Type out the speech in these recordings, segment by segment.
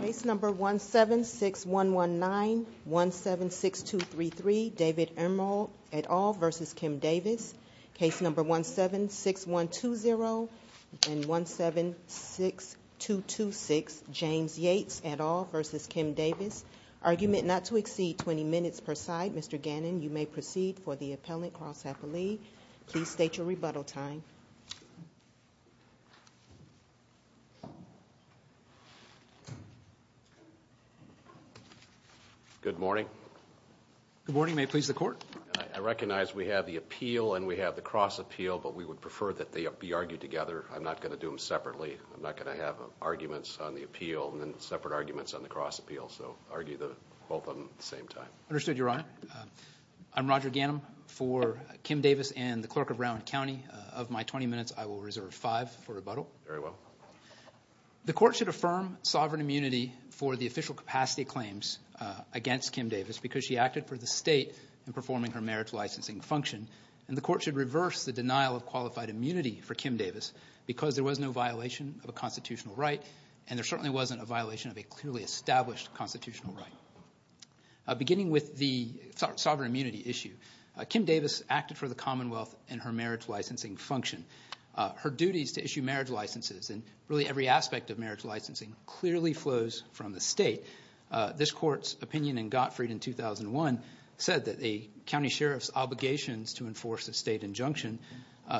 Case number 176119, 176233, David Ermold et al. v. Kim Davis. Case number 176120 and 176226, James Yates et al. v. Kim Davis. Argument not to exceed 20 minutes per side. Mr. Gannon, you may proceed for the appellant, Carl Sapperlee. Please state your rebuttal time. Good morning. Good morning. May it please the court. I recognize we have the appeal and we have the cross appeal, but we would prefer that they be argued together. I'm not going to do them separately. I'm not going to have arguments on the appeal and then separate arguments on the cross appeal. So argue both of them at the same time. Understood, Your Honor. I'm Roger Gannon for Kim Davis and the clerk of Brown County. Of my 20 minutes, I will reserve five for rebuttal. Very well. The court should affirm sovereign immunity for the official capacity claims against Kim Davis because she acted for the state in performing her marriage licensing function, and the court should reverse the denial of qualified immunity for Kim Davis because there was no violation of a constitutional right and there certainly wasn't a violation of a clearly established constitutional right. Beginning with the sovereign immunity issue, Kim Davis acted for the Commonwealth in her marriage licensing function. Her duties to issue marriage licenses and really every aspect of marriage licensing clearly flows from the state. This court's opinion in Gottfried in 2001 said that the county sheriff's obligations to enforce a state injunction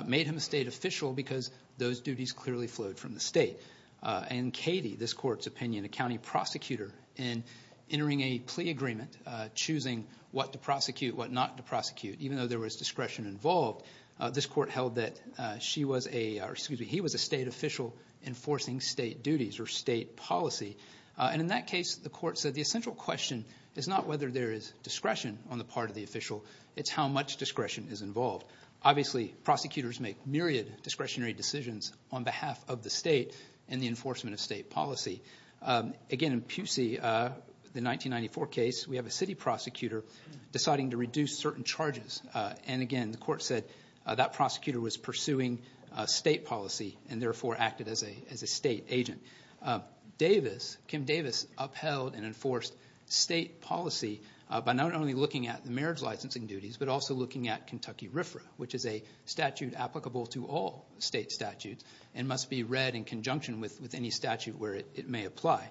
made him a state official because those duties clearly flowed from the state. And Katie, this court's opinion, a county prosecutor, in entering a plea agreement, choosing what to prosecute, what not to prosecute, even though there was discretion involved, this court held that he was a state official enforcing state duties or state policy. And in that case, the court said the essential question is not whether there is discretion on the part of the official. It's how much discretion is involved. Obviously, prosecutors make myriad discretionary decisions on behalf of the state in the enforcement of state policy. Again, in Pusey, the 1994 case, we have a city prosecutor deciding to reduce certain charges. And again, the court said that prosecutor was pursuing state policy and therefore acted as a state agent. Davis, Kim Davis, upheld and enforced state policy by not only looking at the marriage licensing duties but also looking at Kentucky RFRA, which is a statute applicable to all state statutes and must be read in conjunction with any statute where it may apply.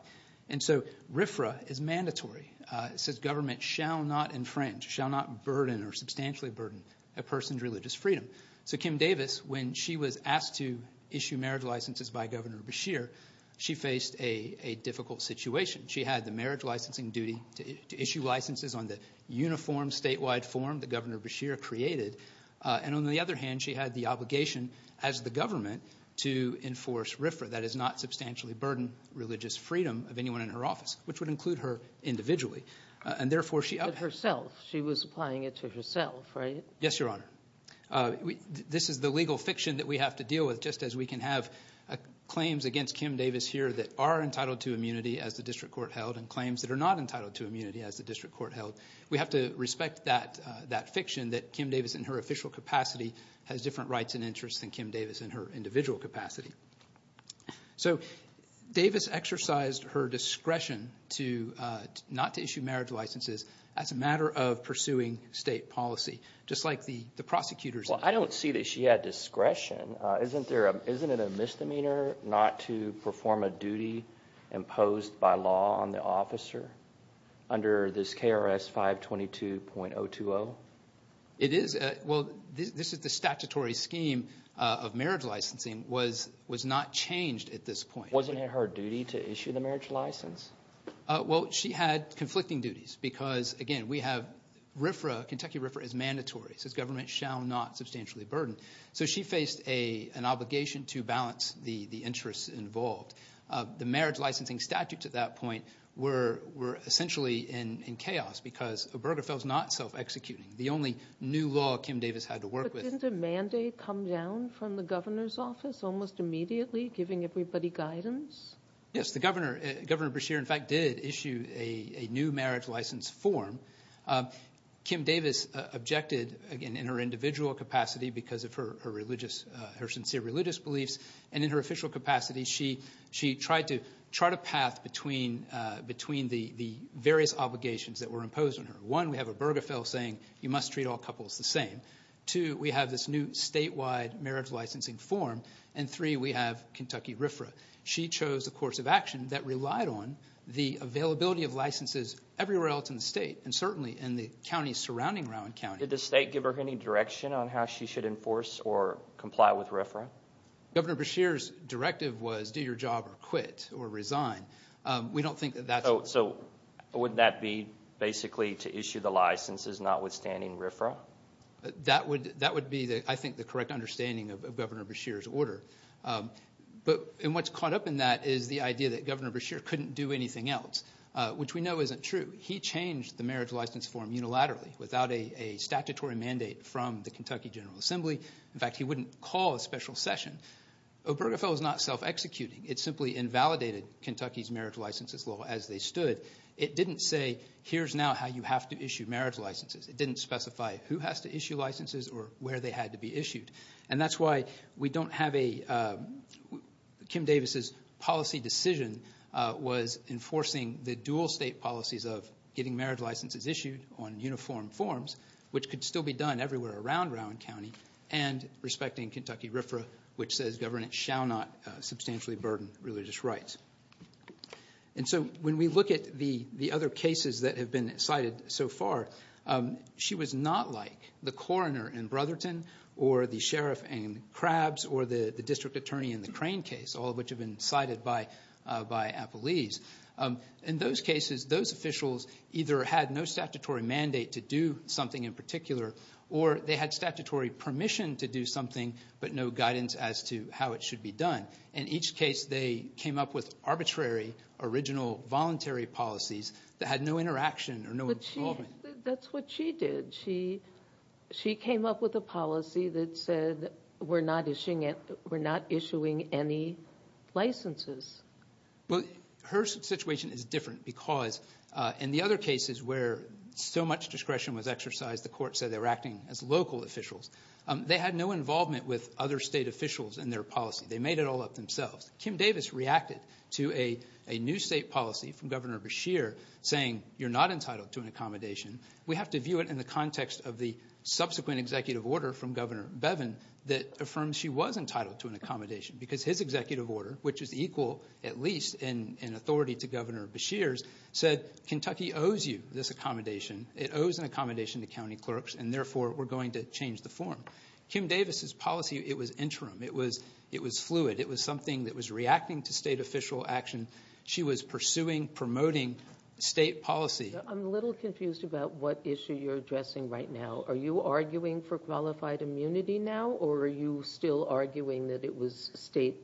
And so RFRA is mandatory. It says government shall not infringe, shall not burden or substantially burden a person's religious freedom. So Kim Davis, when she was asked to issue marriage licenses by Governor Beshear, she faced a difficult situation. She had the marriage licensing duty to issue licenses on the uniform statewide form that Governor Beshear created. And on the other hand, she had the obligation as the government to enforce RFRA, that is not substantially burden religious freedom of anyone in her office, which would include her individually. And therefore she upheld. But herself, she was applying it to herself, right? Yes, Your Honor. This is the legal fiction that we have to deal with just as we can have claims against Kim Davis here that are entitled to immunity as the district court held and claims that are not entitled to immunity as the district court held. We have to respect that fiction that Kim Davis in her official capacity has different rights and interests than Kim Davis in her individual capacity. So Davis exercised her discretion not to issue marriage licenses as a matter of pursuing state policy, just like the prosecutors did. Well, I don't see that she had discretion. Isn't it a misdemeanor not to perform a duty imposed by law on the officer under this KRS 522.020? It is. Well, this is the statutory scheme of marriage licensing was not changed at this point. Wasn't it her duty to issue the marriage license? Well, she had conflicting duties because, again, we have RFRA, Kentucky RFRA is mandatory. It says government shall not substantially burden. So she faced an obligation to balance the interests involved. The marriage licensing statutes at that point were essentially in chaos because Obergefell is not self-executing. The only new law Kim Davis had to work with. But didn't a mandate come down from the governor's office almost immediately giving everybody guidance? Yes, Governor Beshear, in fact, did issue a new marriage license form. Kim Davis objected, again, in her individual capacity because of her religious, her sincere religious beliefs. And in her official capacity, she tried to chart a path between the various obligations that were imposed on her. One, we have Obergefell saying you must treat all couples the same. Two, we have this new statewide marriage licensing form. And three, we have Kentucky RFRA. She chose a course of action that relied on the availability of licenses everywhere else in the state. And certainly in the counties surrounding Rowan County. Did the state give her any direction on how she should enforce or comply with RFRA? Governor Beshear's directive was do your job or quit or resign. We don't think that that's... So wouldn't that be basically to issue the licenses notwithstanding RFRA? That would be, I think, the correct understanding of Governor Beshear's order. But what's caught up in that is the idea that Governor Beshear couldn't do anything else, which we know isn't true. He changed the marriage license form unilaterally without a statutory mandate from the Kentucky General Assembly. In fact, he wouldn't call a special session. Obergefell is not self-executing. It simply invalidated Kentucky's marriage licenses law as they stood. It didn't say here's now how you have to issue marriage licenses. It didn't specify who has to issue licenses or where they had to be issued. And that's why we don't have a... Kim Davis's policy decision was enforcing the dual state policies of getting marriage licenses issued on uniform forms, which could still be done everywhere around Rowan County, and respecting Kentucky RFRA, which says governance shall not substantially burden religious rights. And so when we look at the other cases that have been cited so far, she was not like the coroner in Brotherton or the sheriff in Crabs or the district attorney in the Crane case, all of which have been cited by Appelese. In those cases, those officials either had no statutory mandate to do something in particular or they had statutory permission to do something but no guidance as to how it should be done. In each case, they came up with arbitrary, original, voluntary policies that had no interaction or no involvement. That's what she did. She came up with a policy that said we're not issuing any licenses. Well, her situation is different because in the other cases where so much discretion was exercised, the court said they were acting as local officials. They had no involvement with other state officials in their policy. They made it all up themselves. Kim Davis reacted to a new state policy from Governor Beshear saying you're not entitled to an accommodation. We have to view it in the context of the subsequent executive order from Governor Bevin that affirms she was entitled to an accommodation because his executive order, which is equal at least in authority to Governor Beshear's, said Kentucky owes you this accommodation. It owes an accommodation to county clerks, and therefore we're going to change the form. Kim Davis's policy, it was interim. It was fluid. It was something that was reacting to state official action. She was pursuing, promoting state policy. I'm a little confused about what issue you're addressing right now. Are you arguing for qualified immunity now, or are you still arguing that it was state?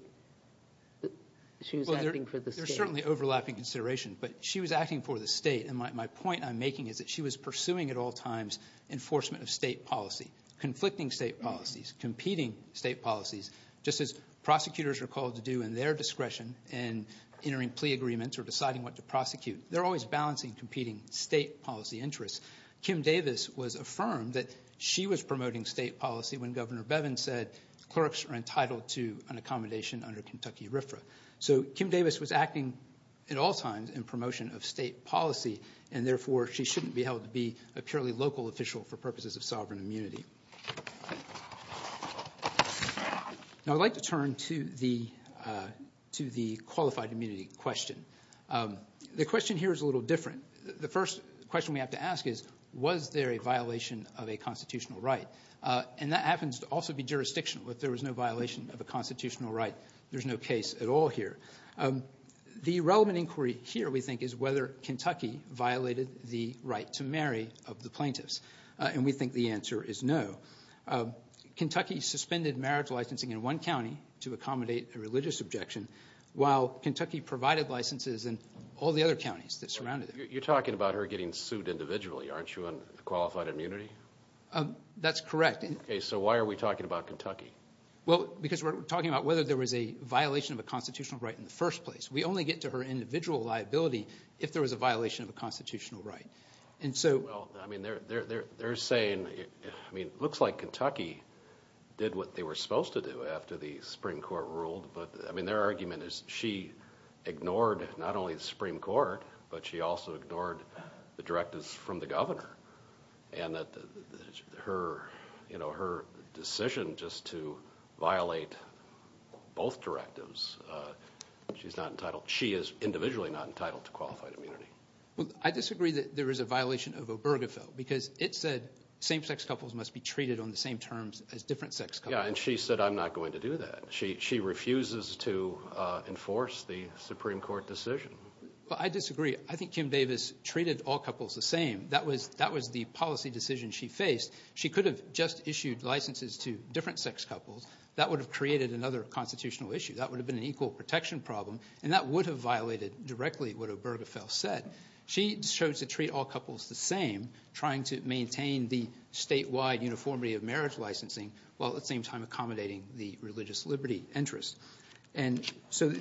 She was acting for the state. There's certainly overlapping consideration, but she was acting for the state, and my point I'm making is that she was pursuing at all times enforcement of state policy, conflicting state policies, competing state policies, just as prosecutors are called to do in their discretion in entering plea agreements or deciding what to prosecute. They're always balancing competing state policy interests. Kim Davis was affirmed that she was promoting state policy when Governor Bevin said clerks are entitled to an accommodation under Kentucky RFRA. So Kim Davis was acting at all times in promotion of state policy, and therefore she shouldn't be held to be a purely local official for purposes of sovereign immunity. Now I'd like to turn to the qualified immunity question. The question here is a little different. The first question we have to ask is, was there a violation of a constitutional right? And that happens to also be jurisdictional. If there was no violation of a constitutional right, there's no case at all here. The relevant inquiry here, we think, is whether Kentucky violated the right to marry of the plaintiffs, and we think the answer is no. Kentucky suspended marriage licensing in one county to accommodate a religious objection, while Kentucky provided licenses in all the other counties that surrounded it. You're talking about her getting sued individually, aren't you, on qualified immunity? That's correct. Okay, so why are we talking about Kentucky? Well, because we're talking about whether there was a violation of a constitutional right in the first place. We only get to her individual liability if there was a violation of a constitutional right. Well, I mean, they're saying it looks like Kentucky did what they were supposed to do after the Supreme Court ruled, but their argument is she ignored not only the Supreme Court, but she also ignored the directives from the governor, and that her decision just to violate both directives, she is individually not entitled to qualified immunity. Well, I disagree that there is a violation of Obergefell, because it said same-sex couples must be treated on the same terms as different-sex couples. Yeah, and she said, I'm not going to do that. She refuses to enforce the Supreme Court decision. Well, I disagree. I think Kim Davis treated all couples the same. That was the policy decision she faced. She could have just issued licenses to different-sex couples. That would have created another constitutional issue. That would have been an equal protection problem, and that would have violated directly what Obergefell said. She chose to treat all couples the same, trying to maintain the statewide uniformity of marriage licensing while at the same time accommodating the religious liberty interest. So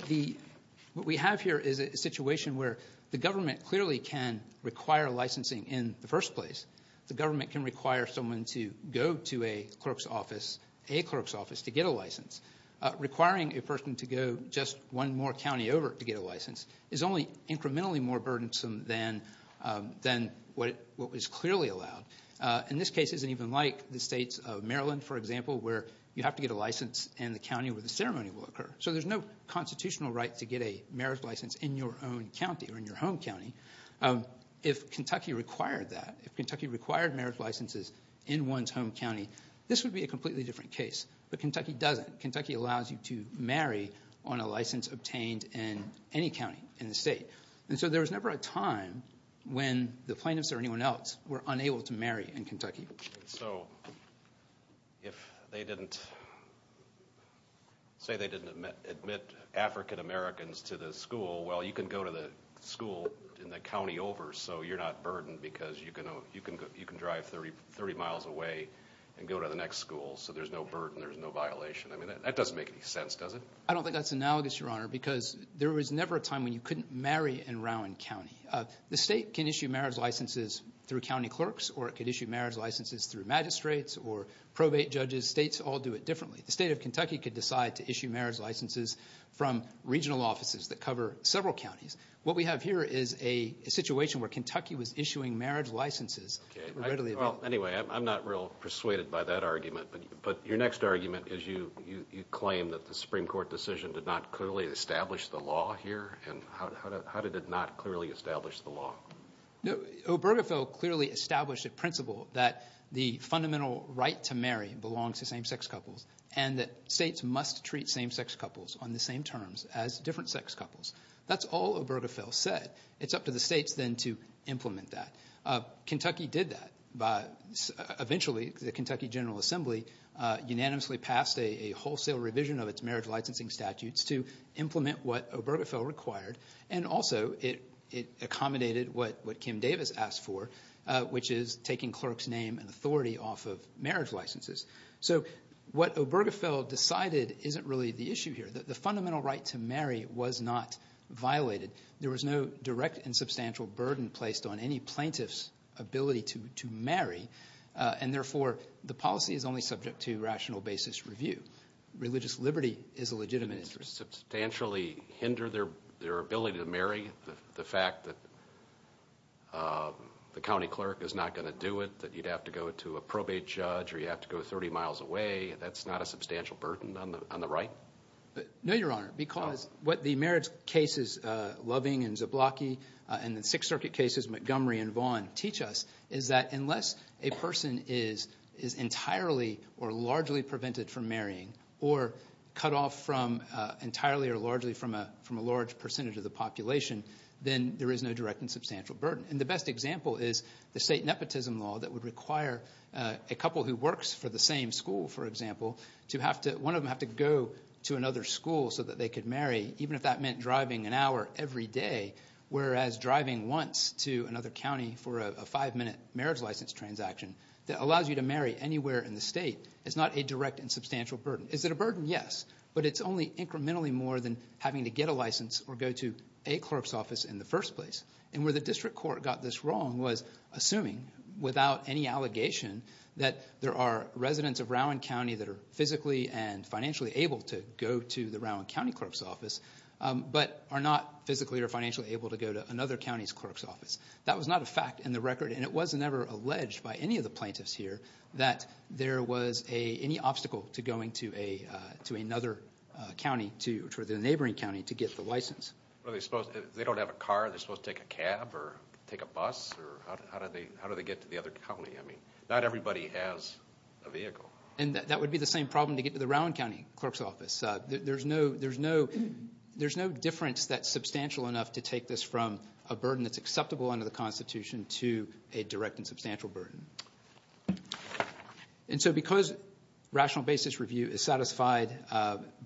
what we have here is a situation where the government clearly can require licensing in the first place. The government can require someone to go to a clerk's office to get a license. Requiring a person to go just one more county over to get a license is only incrementally more burdensome than what was clearly allowed. And this case isn't even like the states of Maryland, for example, where you have to get a license in the county where the ceremony will occur. So there's no constitutional right to get a marriage license in your own county or in your home county. If Kentucky required that, if Kentucky required marriage licenses in one's home county, this would be a completely different case. But Kentucky doesn't. Kentucky allows you to marry on a license obtained in any county in the state. And so there was never a time when the plaintiffs or anyone else were unable to marry in Kentucky. So if they didn't say they didn't admit African-Americans to the school, well, you can go to the school in the county over, so you're not burdened because you can drive 30 miles away and go to the next school, so there's no burden, there's no violation. I mean, that doesn't make any sense, does it? I don't think that's analogous, Your Honor, because there was never a time when you couldn't marry in Rowan County. The state can issue marriage licenses through county clerks or it could issue marriage licenses through magistrates or probate judges. States all do it differently. The state of Kentucky could decide to issue marriage licenses from regional offices that cover several counties. What we have here is a situation where Kentucky was issuing marriage licenses readily available. Well, anyway, I'm not real persuaded by that argument. But your next argument is you claim that the Supreme Court decision did not clearly establish the law here. How did it not clearly establish the law? Obergefell clearly established a principle that the fundamental right to marry belongs to same-sex couples and that states must treat same-sex couples on the same terms as different sex couples. That's all Obergefell said. It's up to the states then to implement that. Kentucky did that. Eventually, the Kentucky General Assembly unanimously passed a wholesale revision of its marriage licensing statutes to implement what Obergefell required, and also it accommodated what Kim Davis asked for, which is taking clerks' name and authority off of marriage licenses. So what Obergefell decided isn't really the issue here. The fundamental right to marry was not violated. There was no direct and substantial burden placed on any plaintiff's ability to marry, and therefore the policy is only subject to rational basis review. Religious liberty is a legitimate interest. Did it substantially hinder their ability to marry, the fact that the county clerk is not going to do it, that you'd have to go to a probate judge or you'd have to go 30 miles away? That's not a substantial burden on the right? No, Your Honor, because what the marriage cases Loving and Zablocki and the Sixth Circuit cases Montgomery and Vaughan teach us is that unless a person is entirely or largely prevented from marrying or cut off from entirely or largely from a large percentage of the population, then there is no direct and substantial burden. And the best example is the state nepotism law that would require a couple who works for the same school, for example, to have to go to another school so that they could marry, even if that meant driving an hour every day, whereas driving once to another county for a five-minute marriage license transaction that allows you to marry anywhere in the state is not a direct and substantial burden. Is it a burden? Yes, but it's only incrementally more than having to get a license or go to a clerk's office in the first place. And where the district court got this wrong was assuming without any allegation that there are residents of Rowan County that are physically and financially able to go to the Rowan County clerk's office but are not physically or financially able to go to another county's clerk's office. That was not a fact in the record, and it was never alleged by any of the plaintiffs here that there was any obstacle to going to another county, to the neighboring county, to get the license. They don't have a car. Are they supposed to take a cab or take a bus? Or how do they get to the other county? I mean, not everybody has a vehicle. And that would be the same problem to get to the Rowan County clerk's office. There's no difference that's substantial enough to take this from a burden that's acceptable under the Constitution to a direct and substantial burden. And so because rational basis review is satisfied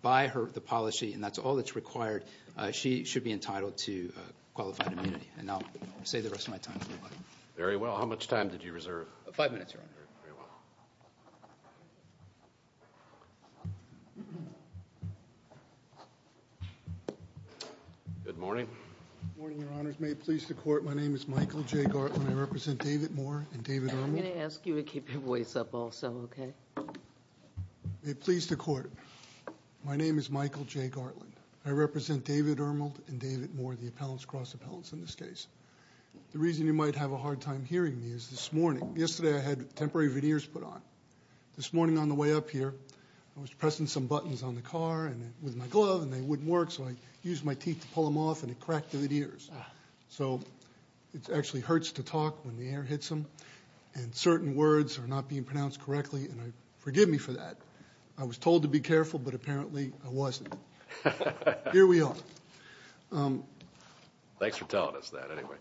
by the policy and that's all that's required, she should be entitled to qualified immunity. And I'll say the rest of my time. Very well. How much time did you reserve? Five minutes, Your Honor. Good morning. Good morning, Your Honors. May it please the Court, my name is Michael J. Gartland. I represent David Moore and David Owen. I'm going to ask you to keep your voice up also, okay? May it please the Court, my name is Michael J. Gartland. I represent David Ermold and David Moore, the appellants, cross appellants in this case. The reason you might have a hard time hearing me is this morning, yesterday I had temporary veneers put on. This morning on the way up here, I was pressing some buttons on the car with my glove and they wouldn't work, so I used my teeth to pull them off and it cracked the veneers. So it actually hurts to talk when the air hits them. And certain words are not being pronounced correctly, and forgive me for that. I was told to be careful, but apparently I wasn't. Here we are. Thanks for telling us that, anyway.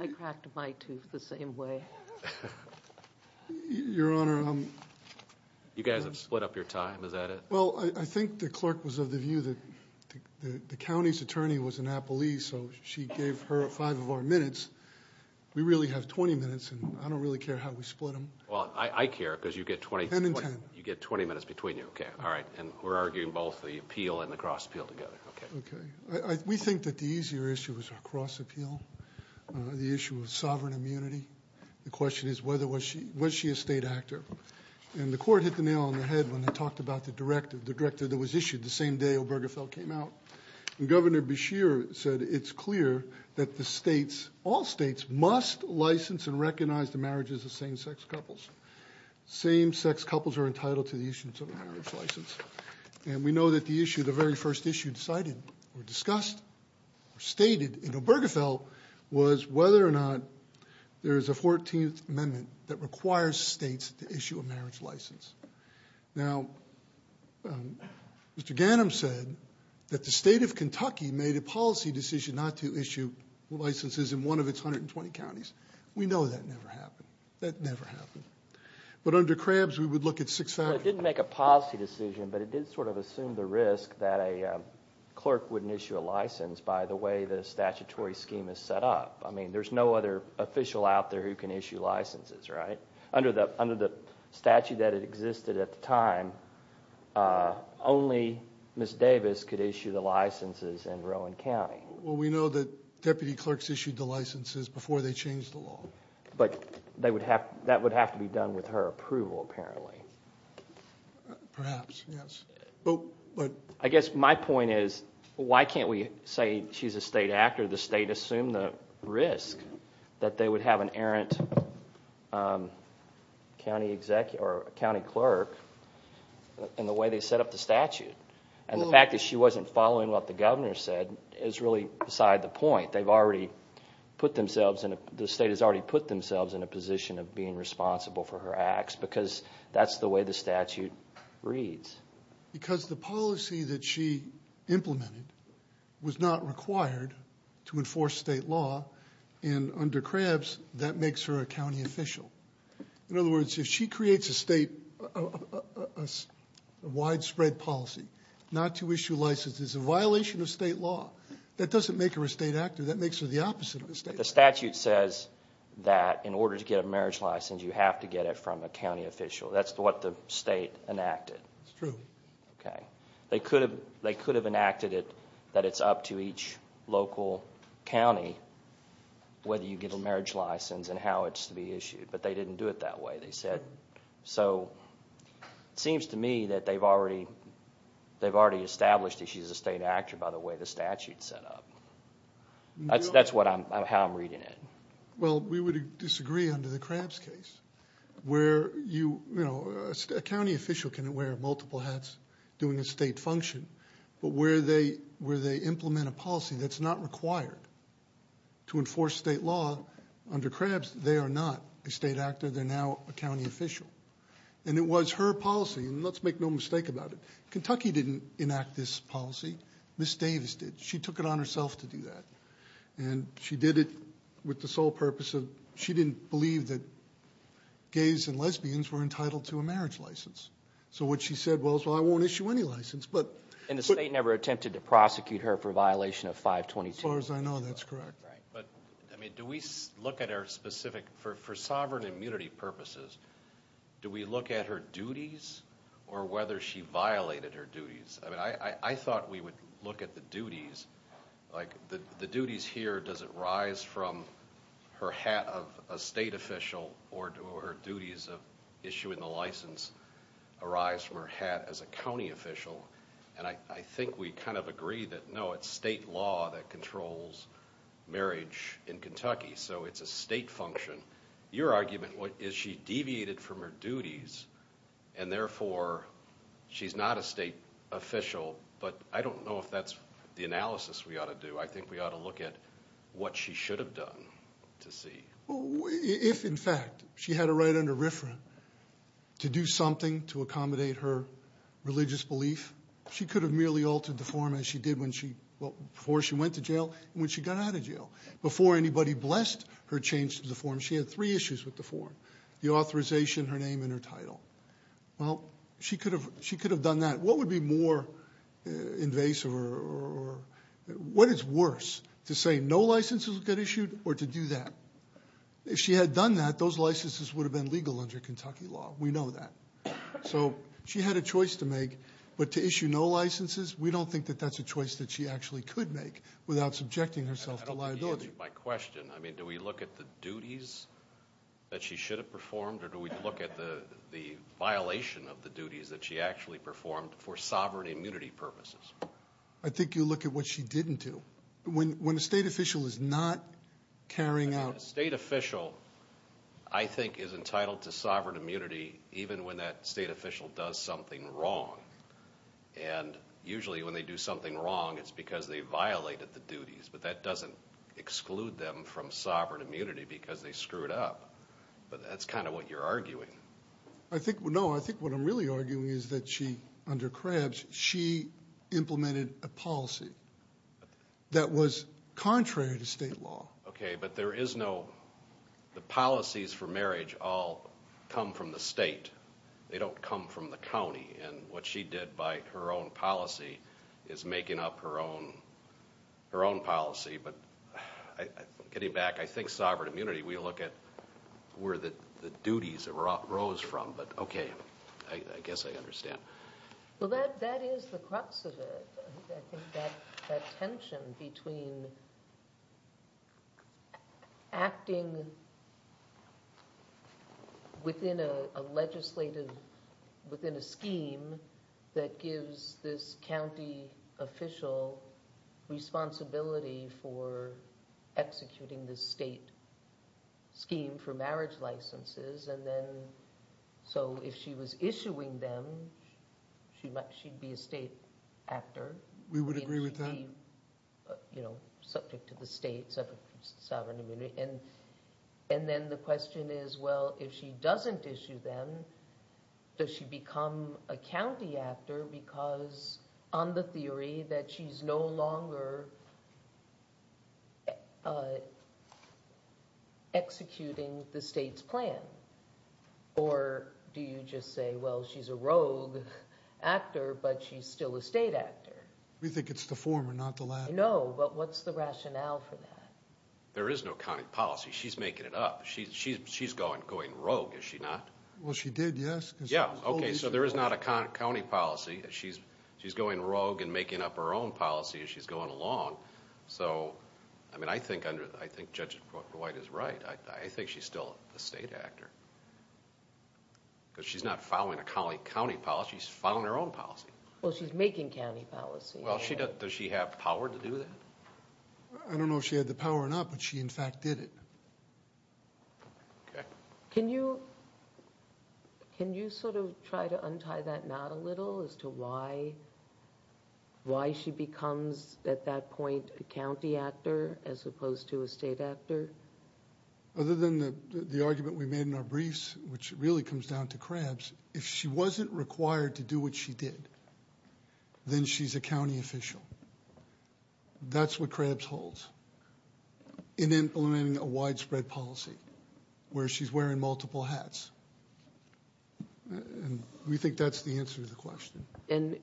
I cracked my tooth the same way. Your Honor, I'm... You guys have split up your time, is that it? Well, I think the clerk was of the view that the county's attorney was an appellee, so she gave her five of our minutes. We really have 20 minutes and I don't really care how we split them. Well, I care because you get 20... Ten and ten. You get 20 minutes between you. Okay, all right. And we're arguing both the appeal and the cross appeal together. Okay. We think that the easier issue is our cross appeal, the issue of sovereign immunity. The question is was she a state actor? And the court hit the nail on the head when they talked about the directive, the directive that was issued the same day Obergefell came out. And Governor Beshear said it's clear that the states, all states, must license and recognize the marriages of same-sex couples. Same-sex couples are entitled to the issuance of a marriage license. And we know that the issue, the very first issue decided or discussed or stated in Obergefell was whether or not there is a 14th Amendment that requires states to issue a marriage license. Now, Mr. Ganim said that the state of Kentucky made a policy decision not to issue licenses in one of its 120 counties. We know that never happened. That never happened. But under Krabs, we would look at six counties. It didn't make a policy decision, but it did sort of assume the risk that a clerk wouldn't issue a license by the way the statutory scheme is set up. I mean, there's no other official out there who can issue licenses, right? Under the statute that existed at the time, only Ms. Davis could issue the licenses in Rowan County. Well, we know that deputy clerks issued the licenses before they changed the law. But that would have to be done with her approval, apparently. Perhaps, yes. I guess my point is, why can't we say she's a state act or the state assume the risk that they would have an errant county clerk in the way they set up the statute? And the fact that she wasn't following what the governor said is really beside the point. The state has already put themselves in a position of being responsible for her acts because that's the way the statute reads. Because the policy that she implemented was not required to enforce state law, and under Krabs, that makes her a county official. In other words, if she creates a state widespread policy not to issue licenses, it's a violation of state law. That doesn't make her a state actor. That makes her the opposite of a state actor. The statute says that in order to get a marriage license, you have to get it from a county official. That's what the state enacted. It's true. Okay. They could have enacted it that it's up to each local county whether you get a marriage license and how it's to be issued, but they didn't do it that way, they said. So it seems to me that they've already established that she's a state actor by the way the statute's set up. That's how I'm reading it. Well, we would disagree under the Krabs case. A county official can wear multiple hats doing a state function, but where they implement a policy that's not required to enforce state law, under Krabs they are not a state actor. They're now a county official. And it was her policy, and let's make no mistake about it. Kentucky didn't enact this policy. Ms. Davis did. She took it on herself to do that. And she did it with the sole purpose of she didn't believe that gays and lesbians were entitled to a marriage license. So what she said was, well, I won't issue any license. And the state never attempted to prosecute her for a violation of 522. As far as I know, that's correct. Right. But, I mean, do we look at her specific, for sovereign immunity purposes, do we look at her duties or whether she violated her duties? I mean, I thought we would look at the duties. Like the duties here, does it rise from her hat of a state official or do her duties of issuing the license arise from her hat as a county official? And I think we kind of agree that, no, it's state law that controls marriage in Kentucky. So it's a state function. Your argument is she deviated from her duties and therefore she's not a state official. But I don't know if that's the analysis we ought to do. I think we ought to look at what she should have done to see. If, in fact, she had a right under RFRA to do something to accommodate her religious belief, she could have merely altered the form as she did before she went to jail and when she got out of jail. Before anybody blessed her change to the form, she had three issues with the form, the authorization, her name, and her title. Well, she could have done that. What would be more invasive or what is worse, to say no licenses will get issued or to do that? If she had done that, those licenses would have been legal under Kentucky law. We know that. So she had a choice to make. But to issue no licenses, we don't think that that's a choice that she actually could make without subjecting herself to liability. I don't agree with my question. I mean, do we look at the duties that she should have performed or do we look at the violation of the duties that she actually performed for sovereign immunity purposes? I think you look at what she didn't do. When a state official is not carrying out... A state official, I think, is entitled to sovereign immunity even when that state official does something wrong. And usually when they do something wrong, it's because they violated the duties. But that doesn't exclude them from sovereign immunity because they screwed up. But that's kind of what you're arguing. No, I think what I'm really arguing is that she, under Krebs, she implemented a policy that was contrary to state law. Okay, but there is no... The policies for marriage all come from the state. They don't come from the county. And what she did by her own policy is making up her own policy. But getting back, I think sovereign immunity, we look at where the duties arose from. But, okay, I guess I understand. Well, that is the crux of it. I think that tension between acting within a legislative... within a scheme that gives this county official responsibility for executing this state scheme for marriage licenses. So if she was issuing them, she'd be a state actor. We would agree with that. Subject to the state sovereign immunity. And then the question is, well, if she doesn't issue them, does she become a county actor because, on the theory, that she's no longer executing the state's plan? Or do you just say, well, she's a rogue actor, but she's still a state actor? We think it's the former, not the latter. No, but what's the rationale for that? There is no county policy. She's making it up. She's going rogue, is she not? Well, she did, yes. Yeah, okay, so there is not a county policy. She's going rogue and making up her own policy as she's going along. So, I mean, I think Judge White is right. I think she's still a state actor because she's not following a county policy. She's following her own policy. Well, she's making county policy. Well, does she have power to do that? I don't know if she had the power or not, but she, in fact, did it. Okay. Can you sort of try to untie that knot a little as to why she becomes, at that point, a county actor as opposed to a state actor? Other than the argument we made in our briefs, which really comes down to Krabs, if she wasn't required to do what she did, then she's a county official. That's what Krabs holds in implementing a widespread policy where she's wearing multiple hats, and we think that's the answer to the question. And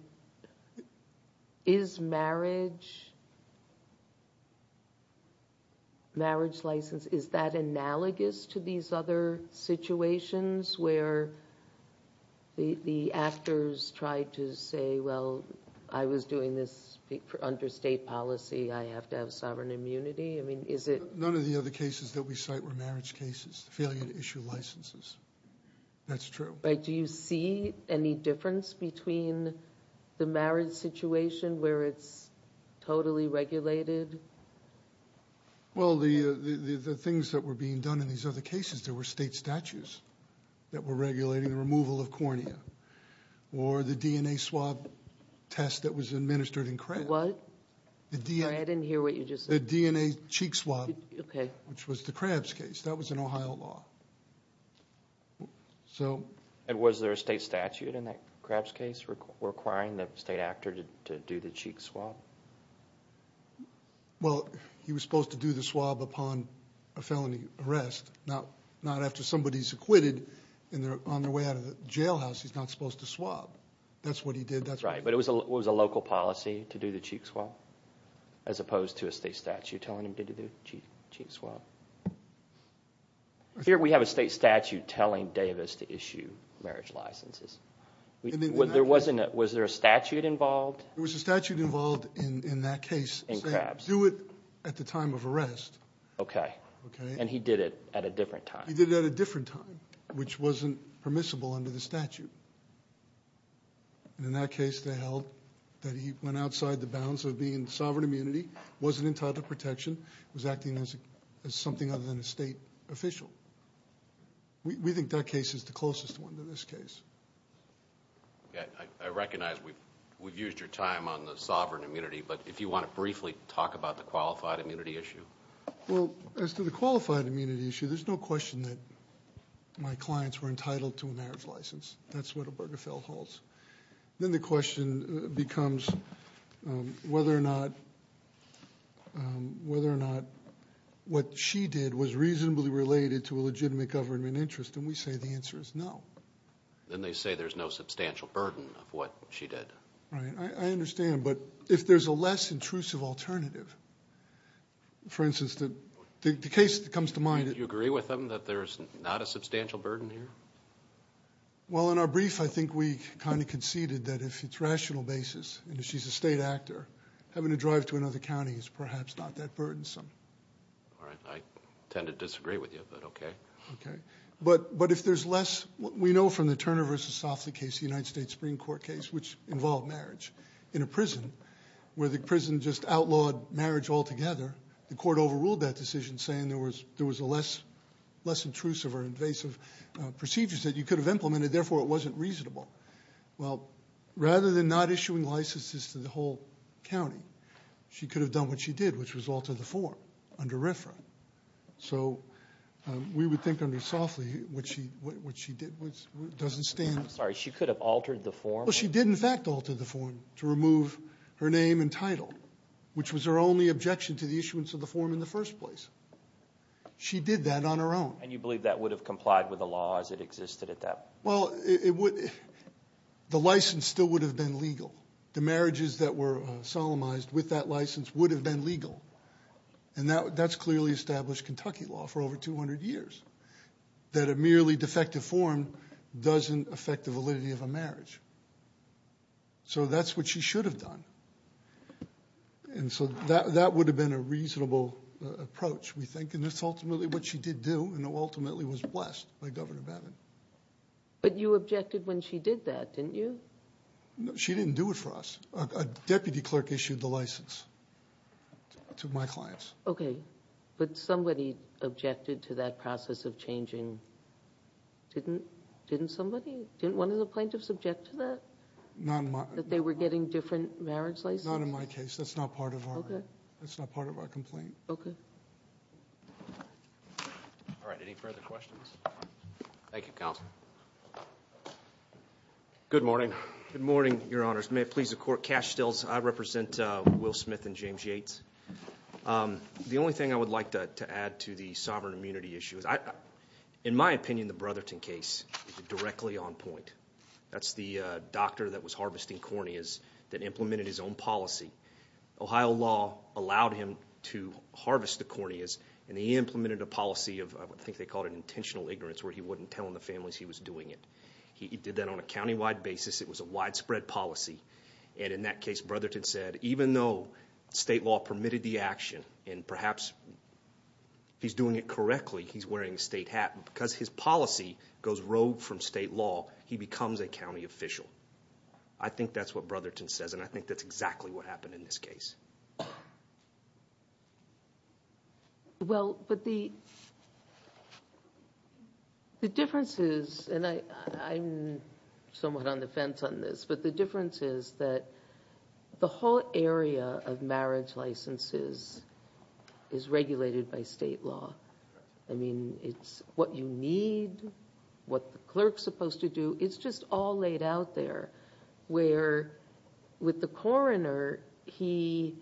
is marriage license, is that analogous to these other situations where the actors try to say, well, I was doing this under state policy. I have to have sovereign immunity. None of the other cases that we cite were marriage cases, the failure to issue licenses. That's true. Do you see any difference between the marriage situation where it's totally regulated? Well, the things that were being done in these other cases, there were state statutes that were regulating the removal of cornea or the DNA swab test that was administered in Krebs. What? I didn't hear what you just said. The DNA cheek swab, which was the Krebs case. That was an Ohio law. And was there a state statute in that Krebs case requiring the state actor to do the cheek swab? Well, he was supposed to do the swab upon a felony arrest, not after somebody's acquitted and they're on their way out of the jailhouse. He's not supposed to swab. That's what he did. That's right. But it was a local policy to do the cheek swab as opposed to a state statute telling him to do the cheek swab. Here we have a state statute telling Davis to issue marriage licenses. Was there a statute involved? There was a statute involved in that case saying do it at the time of arrest. Okay. And he did it at a different time. He did it at a different time, which wasn't permissible under the statute. And in that case they held that he went outside the bounds of being in sovereign immunity, wasn't entitled to protection, was acting as something other than a state official. We think that case is the closest one to this case. I recognize we've used your time on the sovereign immunity, but if you want to briefly talk about the qualified immunity issue. Well, as to the qualified immunity issue, there's no question that my clients were entitled to a marriage license. That's what Obergefell holds. Then the question becomes whether or not what she did was reasonably related to a legitimate government interest, and we say the answer is no. Then they say there's no substantial burden of what she did. Right. I understand. But if there's a less intrusive alternative, for instance, the case that comes to mind. Do you agree with them that there's not a substantial burden here? Well, in our brief I think we kind of conceded that if it's rational basis, and if she's a state actor, having to drive to another county is perhaps not that burdensome. All right. I tend to disagree with you, but okay. Okay. But if there's less, we know from the Turner v. Soffley case, the United States Supreme Court case, which involved marriage, in a prison where the prison just outlawed marriage altogether, the court overruled that decision saying there was a less intrusive or invasive procedure that you could have implemented, therefore it wasn't reasonable. Well, rather than not issuing licenses to the whole county, she could have done what she did, which was alter the form under RFRA. So we would think under Soffley what she did doesn't stand. I'm sorry. She could have altered the form? Well, she did in fact alter the form to remove her name and title, which was her only objection to the issuance of the form in the first place. She did that on her own. And you believe that would have complied with the law as it existed at that point? Well, the license still would have been legal. The marriages that were solemnized with that license would have been legal, and that's clearly established Kentucky law for over 200 years, that a merely defective form doesn't affect the validity of a marriage. So that's what she should have done. And so that would have been a reasonable approach, we think, and that's ultimately what she did do, and ultimately was blessed by Governor Babbitt. But you objected when she did that, didn't you? She didn't do it for us. A deputy clerk issued the license to my clients. Okay, but somebody objected to that process of changing. Didn't somebody? Didn't one of the plaintiffs object to that? Not in my case. That they were getting different marriage licenses? Not in my case. That's not part of our complaint. Okay. All right, any further questions? Thank you, Counsel. Good morning. Good morning, Your Honors. May it please the Court. Cash stills. I represent Will Smith and James Yates. The only thing I would like to add to the sovereign immunity issue is, in my opinion, the Brotherton case is directly on point. That's the doctor that was harvesting corneas that implemented his own policy. Ohio law allowed him to harvest the corneas, and he implemented a policy of, I think they called it intentional ignorance, where he wouldn't tell the families he was doing it. He did that on a countywide basis. It was a widespread policy. And in that case, Brotherton said, even though state law permitted the action, and perhaps he's doing it correctly, he's wearing a state hat. Because his policy goes rogue from state law, he becomes a county official. I think that's what Brotherton says, and I think that's exactly what happened in this case. Well, but the difference is, and I'm somewhat on the fence on this, but the difference is that the whole area of marriage licenses is regulated by state law. I mean, it's what you need, what the clerk's supposed to do, it's just all laid out there. Where with the coroner, he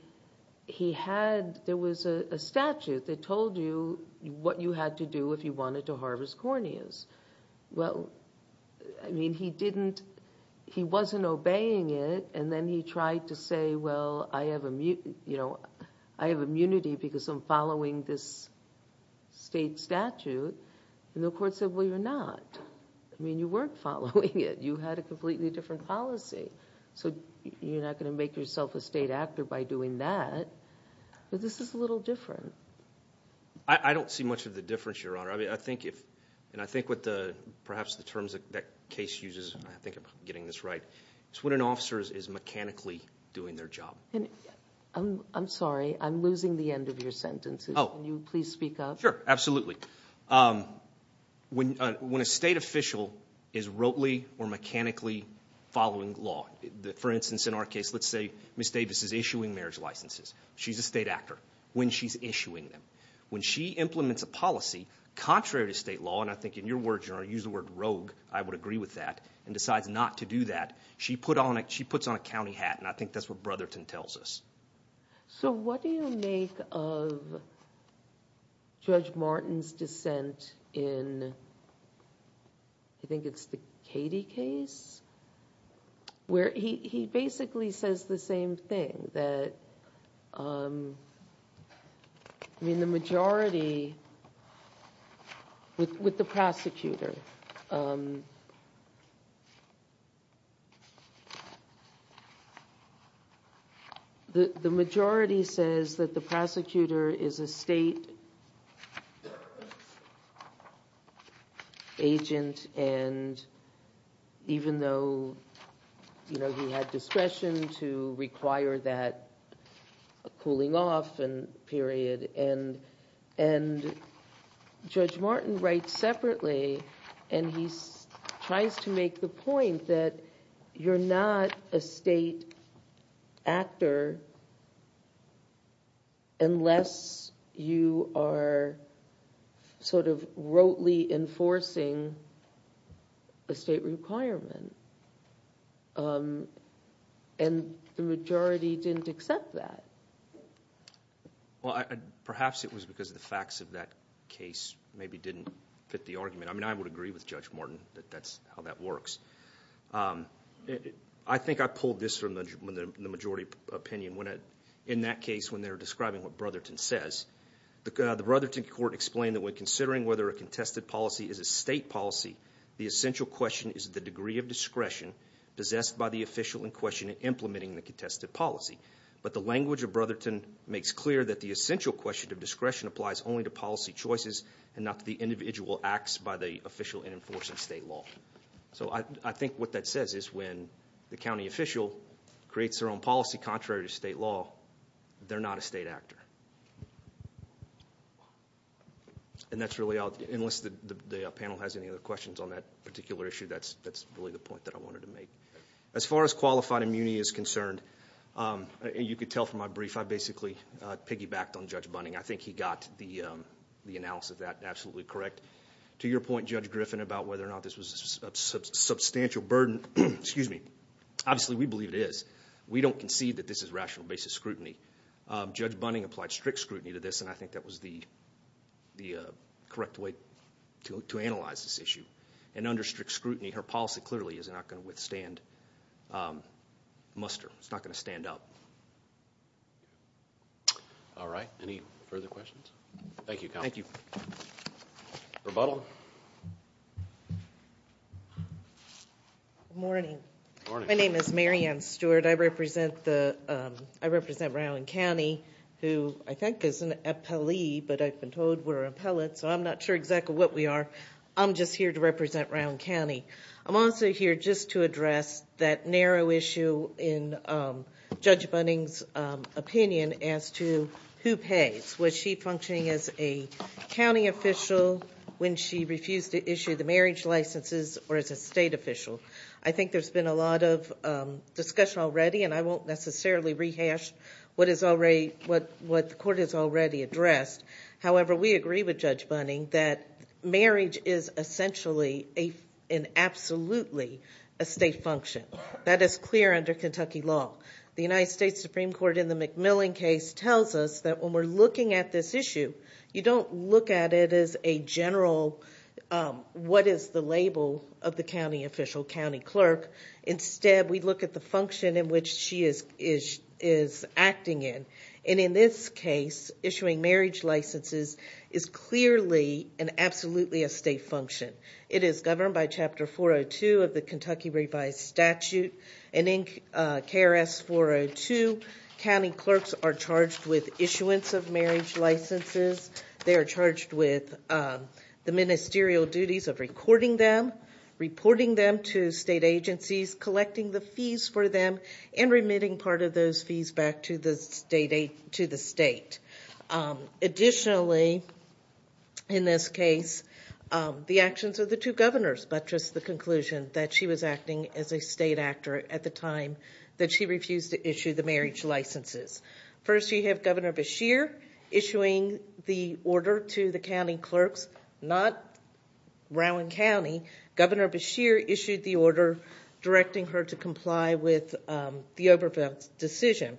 had, there was a statute that told you what you had to do if you wanted to harvest corneas. Well, I mean, he didn't, he wasn't obeying it, and then he tried to say, well, I have immunity because I'm following this state statute. And the court said, well, you're not. I mean, you weren't following it. You had a completely different policy. So you're not going to make yourself a state actor by doing that. But this is a little different. I don't see much of the difference, Your Honor. I think if, and I think what the, perhaps the terms that case uses, and I think I'm getting this right, is when an officer is mechanically doing their job. I'm sorry, I'm losing the end of your sentence. Can you please speak up? Sure, absolutely. When a state official is rotely or mechanically following law, for instance, in our case, let's say Ms. Davis is issuing marriage licenses. She's a state actor when she's issuing them. When she implements a policy contrary to state law, and I think in your words, Your Honor, use the word rogue, I would agree with that, and decides not to do that, she puts on a county hat, and I think that's what Brotherton tells us. So what do you make of Judge Martin's dissent in, I think it's the Katie case, where he basically says the same thing, that, I mean, the majority, with the prosecutor, the majority says that the prosecutor is a state agent, and even though he had discretion to require that cooling off period, and Judge Martin writes separately, and he tries to make the point that you're not a state actor unless you are sort of rotely enforcing a state requirement, and the majority didn't accept that. Well, perhaps it was because the facts of that case maybe didn't fit the argument. I mean, I would agree with Judge Martin that that's how that works. I think I pulled this from the majority opinion. In that case, when they were describing what Brotherton says, the Brotherton court explained that when considering whether a contested policy is a state policy, the essential question is the degree of discretion possessed by the official in question in implementing the contested policy, but the language of Brotherton makes clear that the essential question of discretion applies only to policy choices and not to the individual acts by the official in enforcing state law. So I think what that says is when the county official creates their own policy contrary to state law, they're not a state actor, and that's really all, unless the panel has any other questions on that particular issue, that's really the point that I wanted to make. As far as qualified immunity is concerned, you could tell from my brief, I basically piggybacked on Judge Bunning. I think he got the analysis of that absolutely correct. To your point, Judge Griffin, about whether or not this was a substantial burden, excuse me, obviously we believe it is. We don't concede that this is rational basis scrutiny. Judge Bunning applied strict scrutiny to this, and I think that was the correct way to analyze this issue. And under strict scrutiny, her policy clearly is not going to withstand muster. It's not going to stand up. All right. Any further questions? Thank you, counsel. Thank you. Rebuttal. Good morning. Good morning. My name is Mary Ann Stewart. I represent Brown County, who I think is an appellee, but I've been told we're appellate, so I'm not sure exactly what we are. I'm just here to represent Brown County. I'm also here just to address that narrow issue in Judge Bunning's opinion as to who pays. Was she functioning as a county official when she refused to issue the marriage licenses or as a state official? I think there's been a lot of discussion already, and I won't necessarily rehash what the court has already addressed. However, we agree with Judge Bunning that marriage is essentially and absolutely a state function. That is clear under Kentucky law. The United States Supreme Court in the McMillan case tells us that when we're looking at this issue, you don't look at it as a general what is the label of the county official, county clerk. Instead, we look at the function in which she is acting in. In this case, issuing marriage licenses is clearly and absolutely a state function. It is governed by Chapter 402 of the Kentucky Revised Statute. In KRS 402, county clerks are charged with issuance of marriage licenses. They are charged with the ministerial duties of recording them, reporting them to state agencies, collecting the fees for them, and remitting part of those fees back to the state. Additionally, in this case, the actions of the two governors buttress the conclusion that she was acting as a state actor at the time that she refused to issue the marriage licenses. First, you have Governor Beshear issuing the order to the county clerks, not Rowan County. Governor Beshear issued the order directing her to comply with the Oberfeldt decision.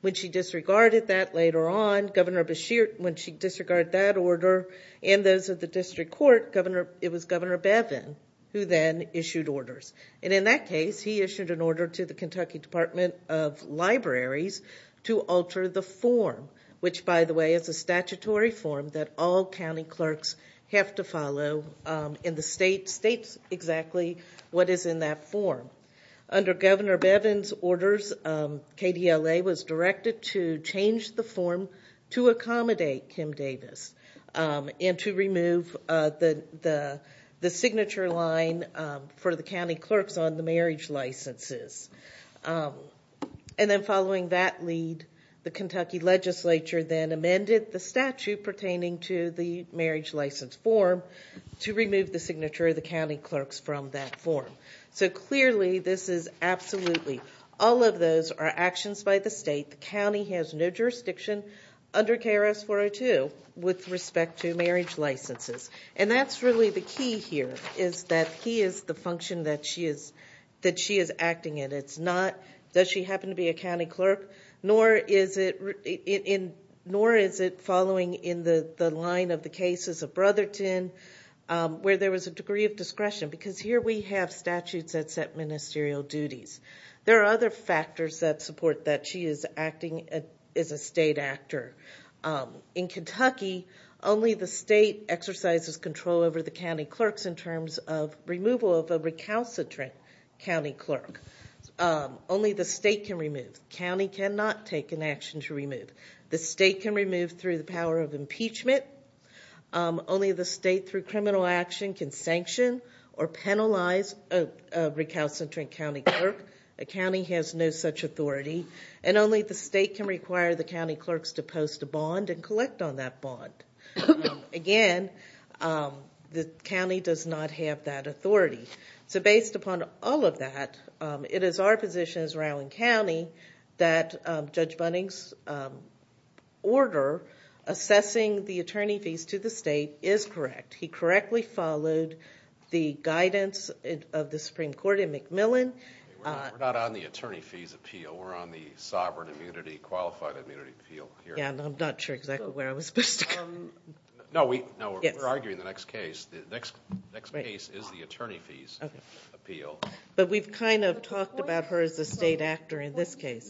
When she disregarded that later on, Governor Beshear, when she disregarded that order and those of the district court, it was Governor Bevin who then issued orders. In that case, he issued an order to the Kentucky Department of Libraries to alter the form, which, by the way, is a statutory form that all county clerks have to follow and the state states exactly what is in that form. Under Governor Bevin's orders, KDLA was directed to change the form to accommodate Kim Davis and to remove the signature line for the county clerks on the marriage licenses. Following that lead, the Kentucky legislature then amended the statute pertaining to the marriage license form to remove the signature of the county clerks from that form. Clearly, this is absolutely all of those are actions by the state. The county has no jurisdiction under KRS 402 with respect to marriage licenses. That's really the key here is that he is the function that she is acting in. It's not, does she happen to be a county clerk? Nor is it following in the line of the cases of Brotherton where there was a degree of discretion because here we have statutes that set ministerial duties. There are other factors that support that she is acting as a state actor. In Kentucky, only the state exercises control over the county clerks in terms of removal of a recalcitrant county clerk. Only the state can remove. The county cannot take an action to remove. The state can remove through the power of impeachment. Only the state through criminal action can sanction or penalize a recalcitrant county clerk. The county has no such authority. Only the state can require the county clerks to post a bond and collect on that bond. Again, the county does not have that authority. Based upon all of that, it is our position as Rowan County that Judge Bunning's order assessing the attorney fees to the state is correct. He correctly followed the guidance of the Supreme Court in McMillan. We're not on the attorney fees appeal. We're on the sovereign immunity, qualified immunity appeal here. I'm not sure exactly where I was supposed to go. No, we're arguing the next case. The next case is the attorney fees appeal. But we've kind of talked about her as a state actor in this case.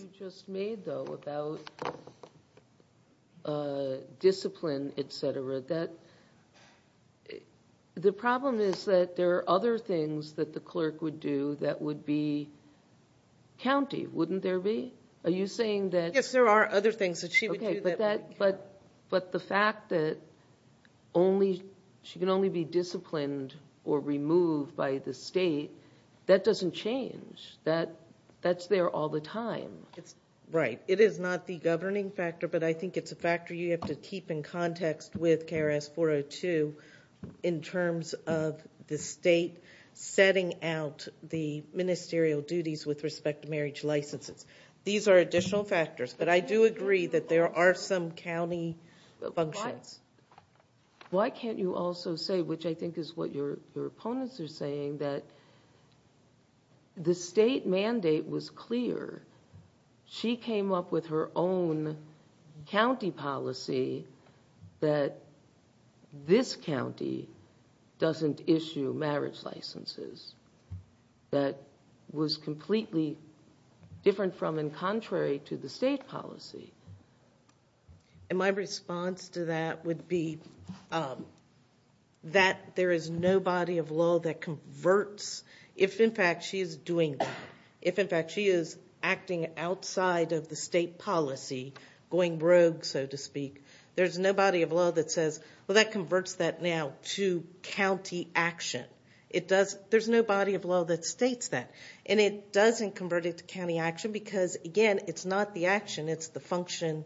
The problem is that there are other things that the clerk would do that would be county. Wouldn't there be? Yes, there are other things that she would do. But the fact that she can only be disciplined or removed by the state, that doesn't change. That's there all the time. Right. It is not the governing factor. But I think it's a factor you have to keep in context with KRS 402 in terms of the state setting out the ministerial duties with respect to marriage licenses. These are additional factors. But I do agree that there are some county functions. Why can't you also say, which I think is what your opponents are saying, that the state mandate was clear. She came up with her own county policy that this county doesn't issue marriage licenses. That was completely different from and contrary to the state policy. My response to that would be that there is no body of law that converts if, in fact, she is doing that. If, in fact, she is acting outside of the state policy, going rogue, so to speak, there's no body of law that says, well, that converts that now to county action. There's no body of law that states that. And it doesn't convert it to county action because, again, it's not the action. It's the function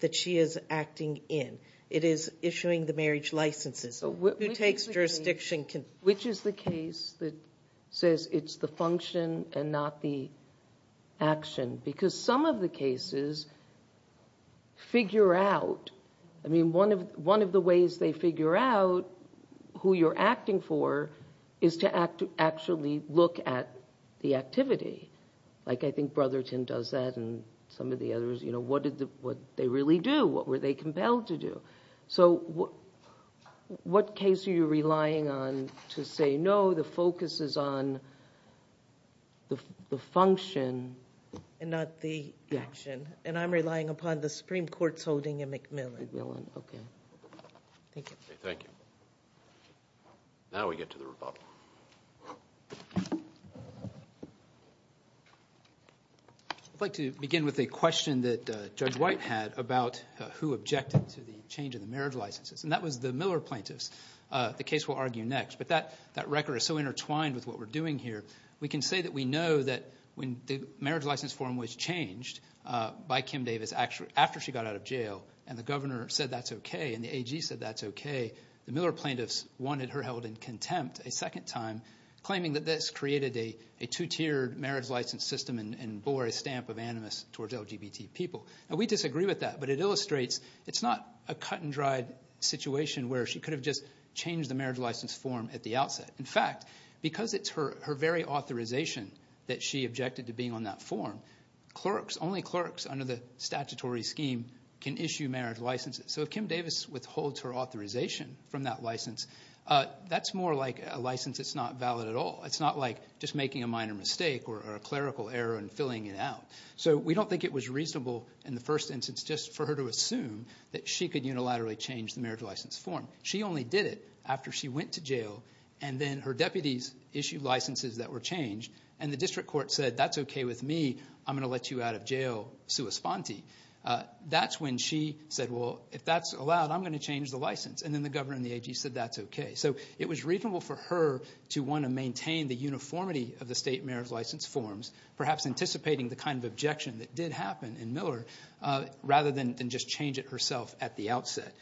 that she is acting in. It is issuing the marriage licenses. Who takes jurisdiction? Which is the case that says it's the function and not the action? Because some of the cases figure out. I mean, one of the ways they figure out who you're acting for is to actually look at the activity. Like I think Brotherton does that and some of the others. What did they really do? What were they compelled to do? So what case are you relying on to say, no, the focus is on the function. And not the action. And I'm relying upon the Supreme Court's holding in McMillan. McMillan, okay. Thank you. Thank you. Now we get to the rebuttal. I'd like to begin with a question that Judge White had about who objected to the change in the marriage licenses. And that was the Miller plaintiffs. The case we'll argue next. But that record is so intertwined with what we're doing here. We can say that we know that when the marriage license form was changed by Kim Davis, after she got out of jail and the governor said that's okay and the AG said that's okay, the Miller plaintiffs wanted her held in contempt a second time, claiming that this created a two-tiered marriage license system and bore a stamp of animus towards LGBT people. Now we disagree with that, but it illustrates it's not a cut-and-dried situation where she could have just changed the marriage license form at the outset. In fact, because it's her very authorization that she objected to being on that form, only clerks under the statutory scheme can issue marriage licenses. So if Kim Davis withholds her authorization from that license, that's more like a license that's not valid at all. It's not like just making a minor mistake or a clerical error and filling it out. So we don't think it was reasonable in the first instance just for her to assume that she could unilaterally change the marriage license form. She only did it after she went to jail and then her deputies issued licenses that were changed and the district court said that's okay with me, I'm going to let you out of jail sua sponte. That's when she said, well, if that's allowed, I'm going to change the license, and then the governor and the AG said that's okay. So it was reasonable for her to want to maintain the uniformity of the state marriage license forms, perhaps anticipating the kind of objection that did happen in Miller rather than just change it herself at the outset.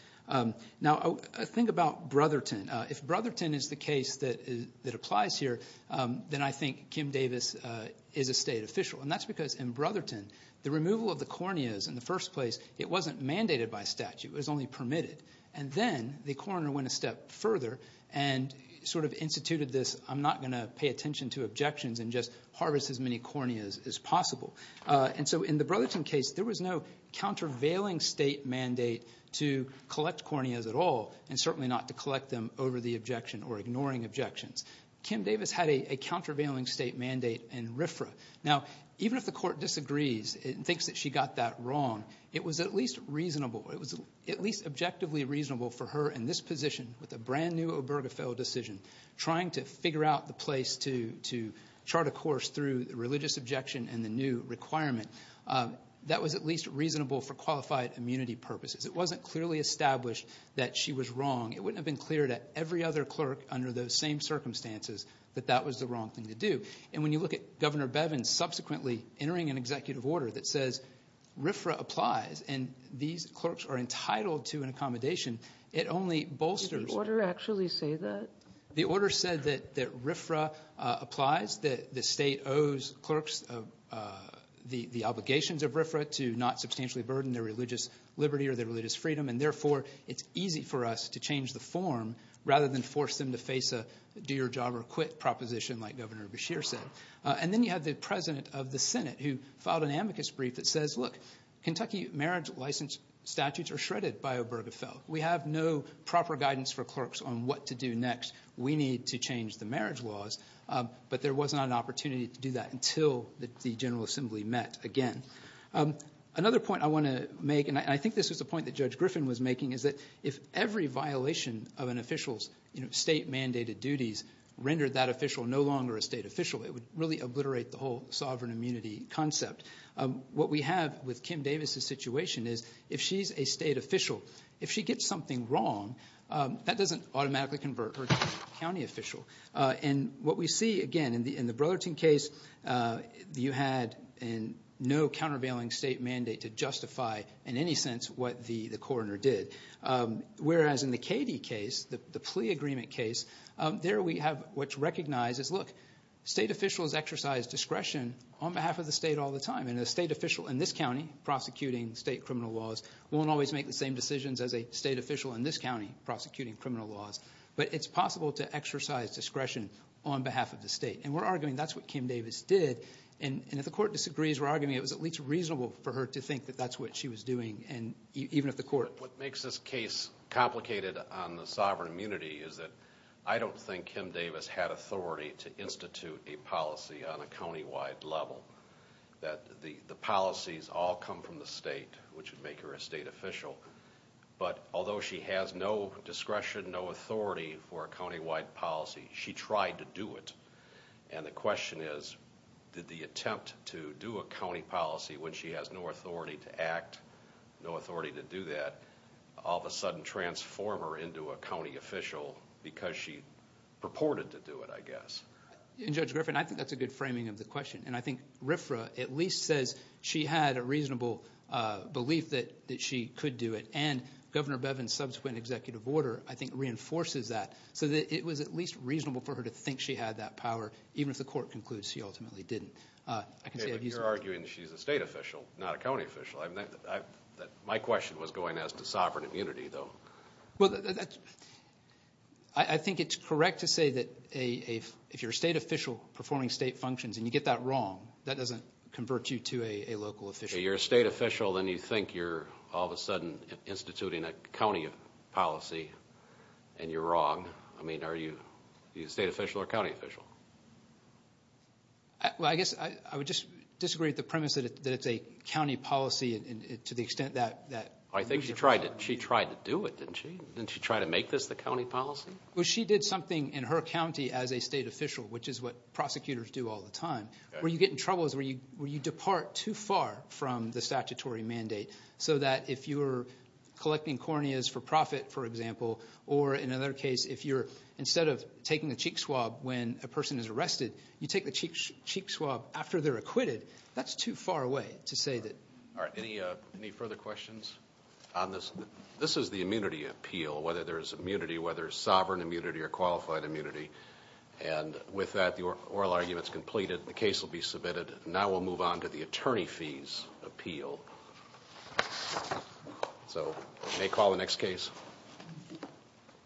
Now think about Brotherton. If Brotherton is the case that applies here, then I think Kim Davis is a state official, and that's because in Brotherton the removal of the corneas in the first place, it wasn't mandated by statute. It was only permitted. And then the coroner went a step further and sort of instituted this I'm not going to pay attention to objections and just harvest as many corneas as possible. And so in the Brotherton case, there was no countervailing state mandate to collect corneas at all and certainly not to collect them over the objection or ignoring objections. Kim Davis had a countervailing state mandate in RFRA. Now even if the court disagrees and thinks that she got that wrong, it was at least reasonable. It was at least objectively reasonable for her in this position with a brand-new Obergefell decision trying to figure out the place to chart a course through the religious objection and the new requirement. That was at least reasonable for qualified immunity purposes. It wasn't clearly established that she was wrong. It wouldn't have been clear to every other clerk under those same circumstances that that was the wrong thing to do. And when you look at Governor Bevin subsequently entering an executive order that says RFRA applies and these clerks are entitled to an accommodation, it only bolsters the order said that RFRA applies, that the state owes clerks the obligations of RFRA to not substantially burden their religious liberty or their religious freedom, and therefore it's easy for us to change the form rather than force them to face a do-your-job-or-quit proposition like Governor Beshear said. And then you have the president of the Senate who filed an amicus brief that says, look, Kentucky marriage license statutes are shredded by Obergefell. We have no proper guidance for clerks on what to do next. We need to change the marriage laws. But there was not an opportunity to do that until the General Assembly met again. Another point I want to make, and I think this was a point that Judge Griffin was making, is that if every violation of an official's state-mandated duties rendered that official no longer a state official, it would really obliterate the whole sovereign immunity concept. What we have with Kim Davis's situation is if she's a state official, if she gets something wrong, that doesn't automatically convert her to a county official. And what we see, again, in the Brotherton case, you had no countervailing state mandate to justify in any sense what the coroner did, whereas in the Cady case, the plea agreement case, there we have what's recognized as, look, state officials exercise discretion on behalf of the state all the time, and a state official in this county prosecuting state criminal laws won't always make the same decisions as a state official in this county prosecuting criminal laws. But it's possible to exercise discretion on behalf of the state, and we're arguing that's what Kim Davis did. And if the court disagrees, we're arguing it was at least reasonable for her to think that that's what she was doing, even if the court— What makes this case complicated on the sovereign immunity is that I don't think Kim Davis had authority to institute a policy on a countywide level that the policies all come from the state, which would make her a state official. But although she has no discretion, no authority for a countywide policy, she tried to do it. And the question is, did the attempt to do a county policy when she has no authority to act, no authority to do that, all of a sudden transform her into a county official because she purported to do it, I guess. And Judge Griffin, I think that's a good framing of the question. And I think RFRA at least says she had a reasonable belief that she could do it. And Governor Bevin's subsequent executive order, I think, reinforces that, so that it was at least reasonable for her to think she had that power, even if the court concludes she ultimately didn't. You're arguing that she's a state official, not a county official. My question was going as to sovereign immunity, though. Well, I think it's correct to say that if you're a state official performing state functions and you get that wrong, that doesn't convert you to a local official. If you're a state official and you think you're all of a sudden instituting a county policy and you're wrong, I mean, are you a state official or a county official? Well, I guess I would just disagree with the premise that it's a county policy to the extent that... I think she tried to do it, didn't she? Didn't she try to make this the county policy? Well, she did something in her county as a state official, which is what prosecutors do all the time. Where you get in trouble is where you depart too far from the statutory mandate, so that if you're collecting corneas for profit, for example, or in another case if you're instead of taking a cheek swab when a person is arrested, you take the cheek swab after they're acquitted. That's too far away to say that... All right, any further questions on this? This is the immunity appeal, whether there's immunity, whether it's sovereign immunity or qualified immunity. And with that, the oral argument's completed. The case will be submitted. Now we'll move on to the attorney fees appeal. So you may call the next case.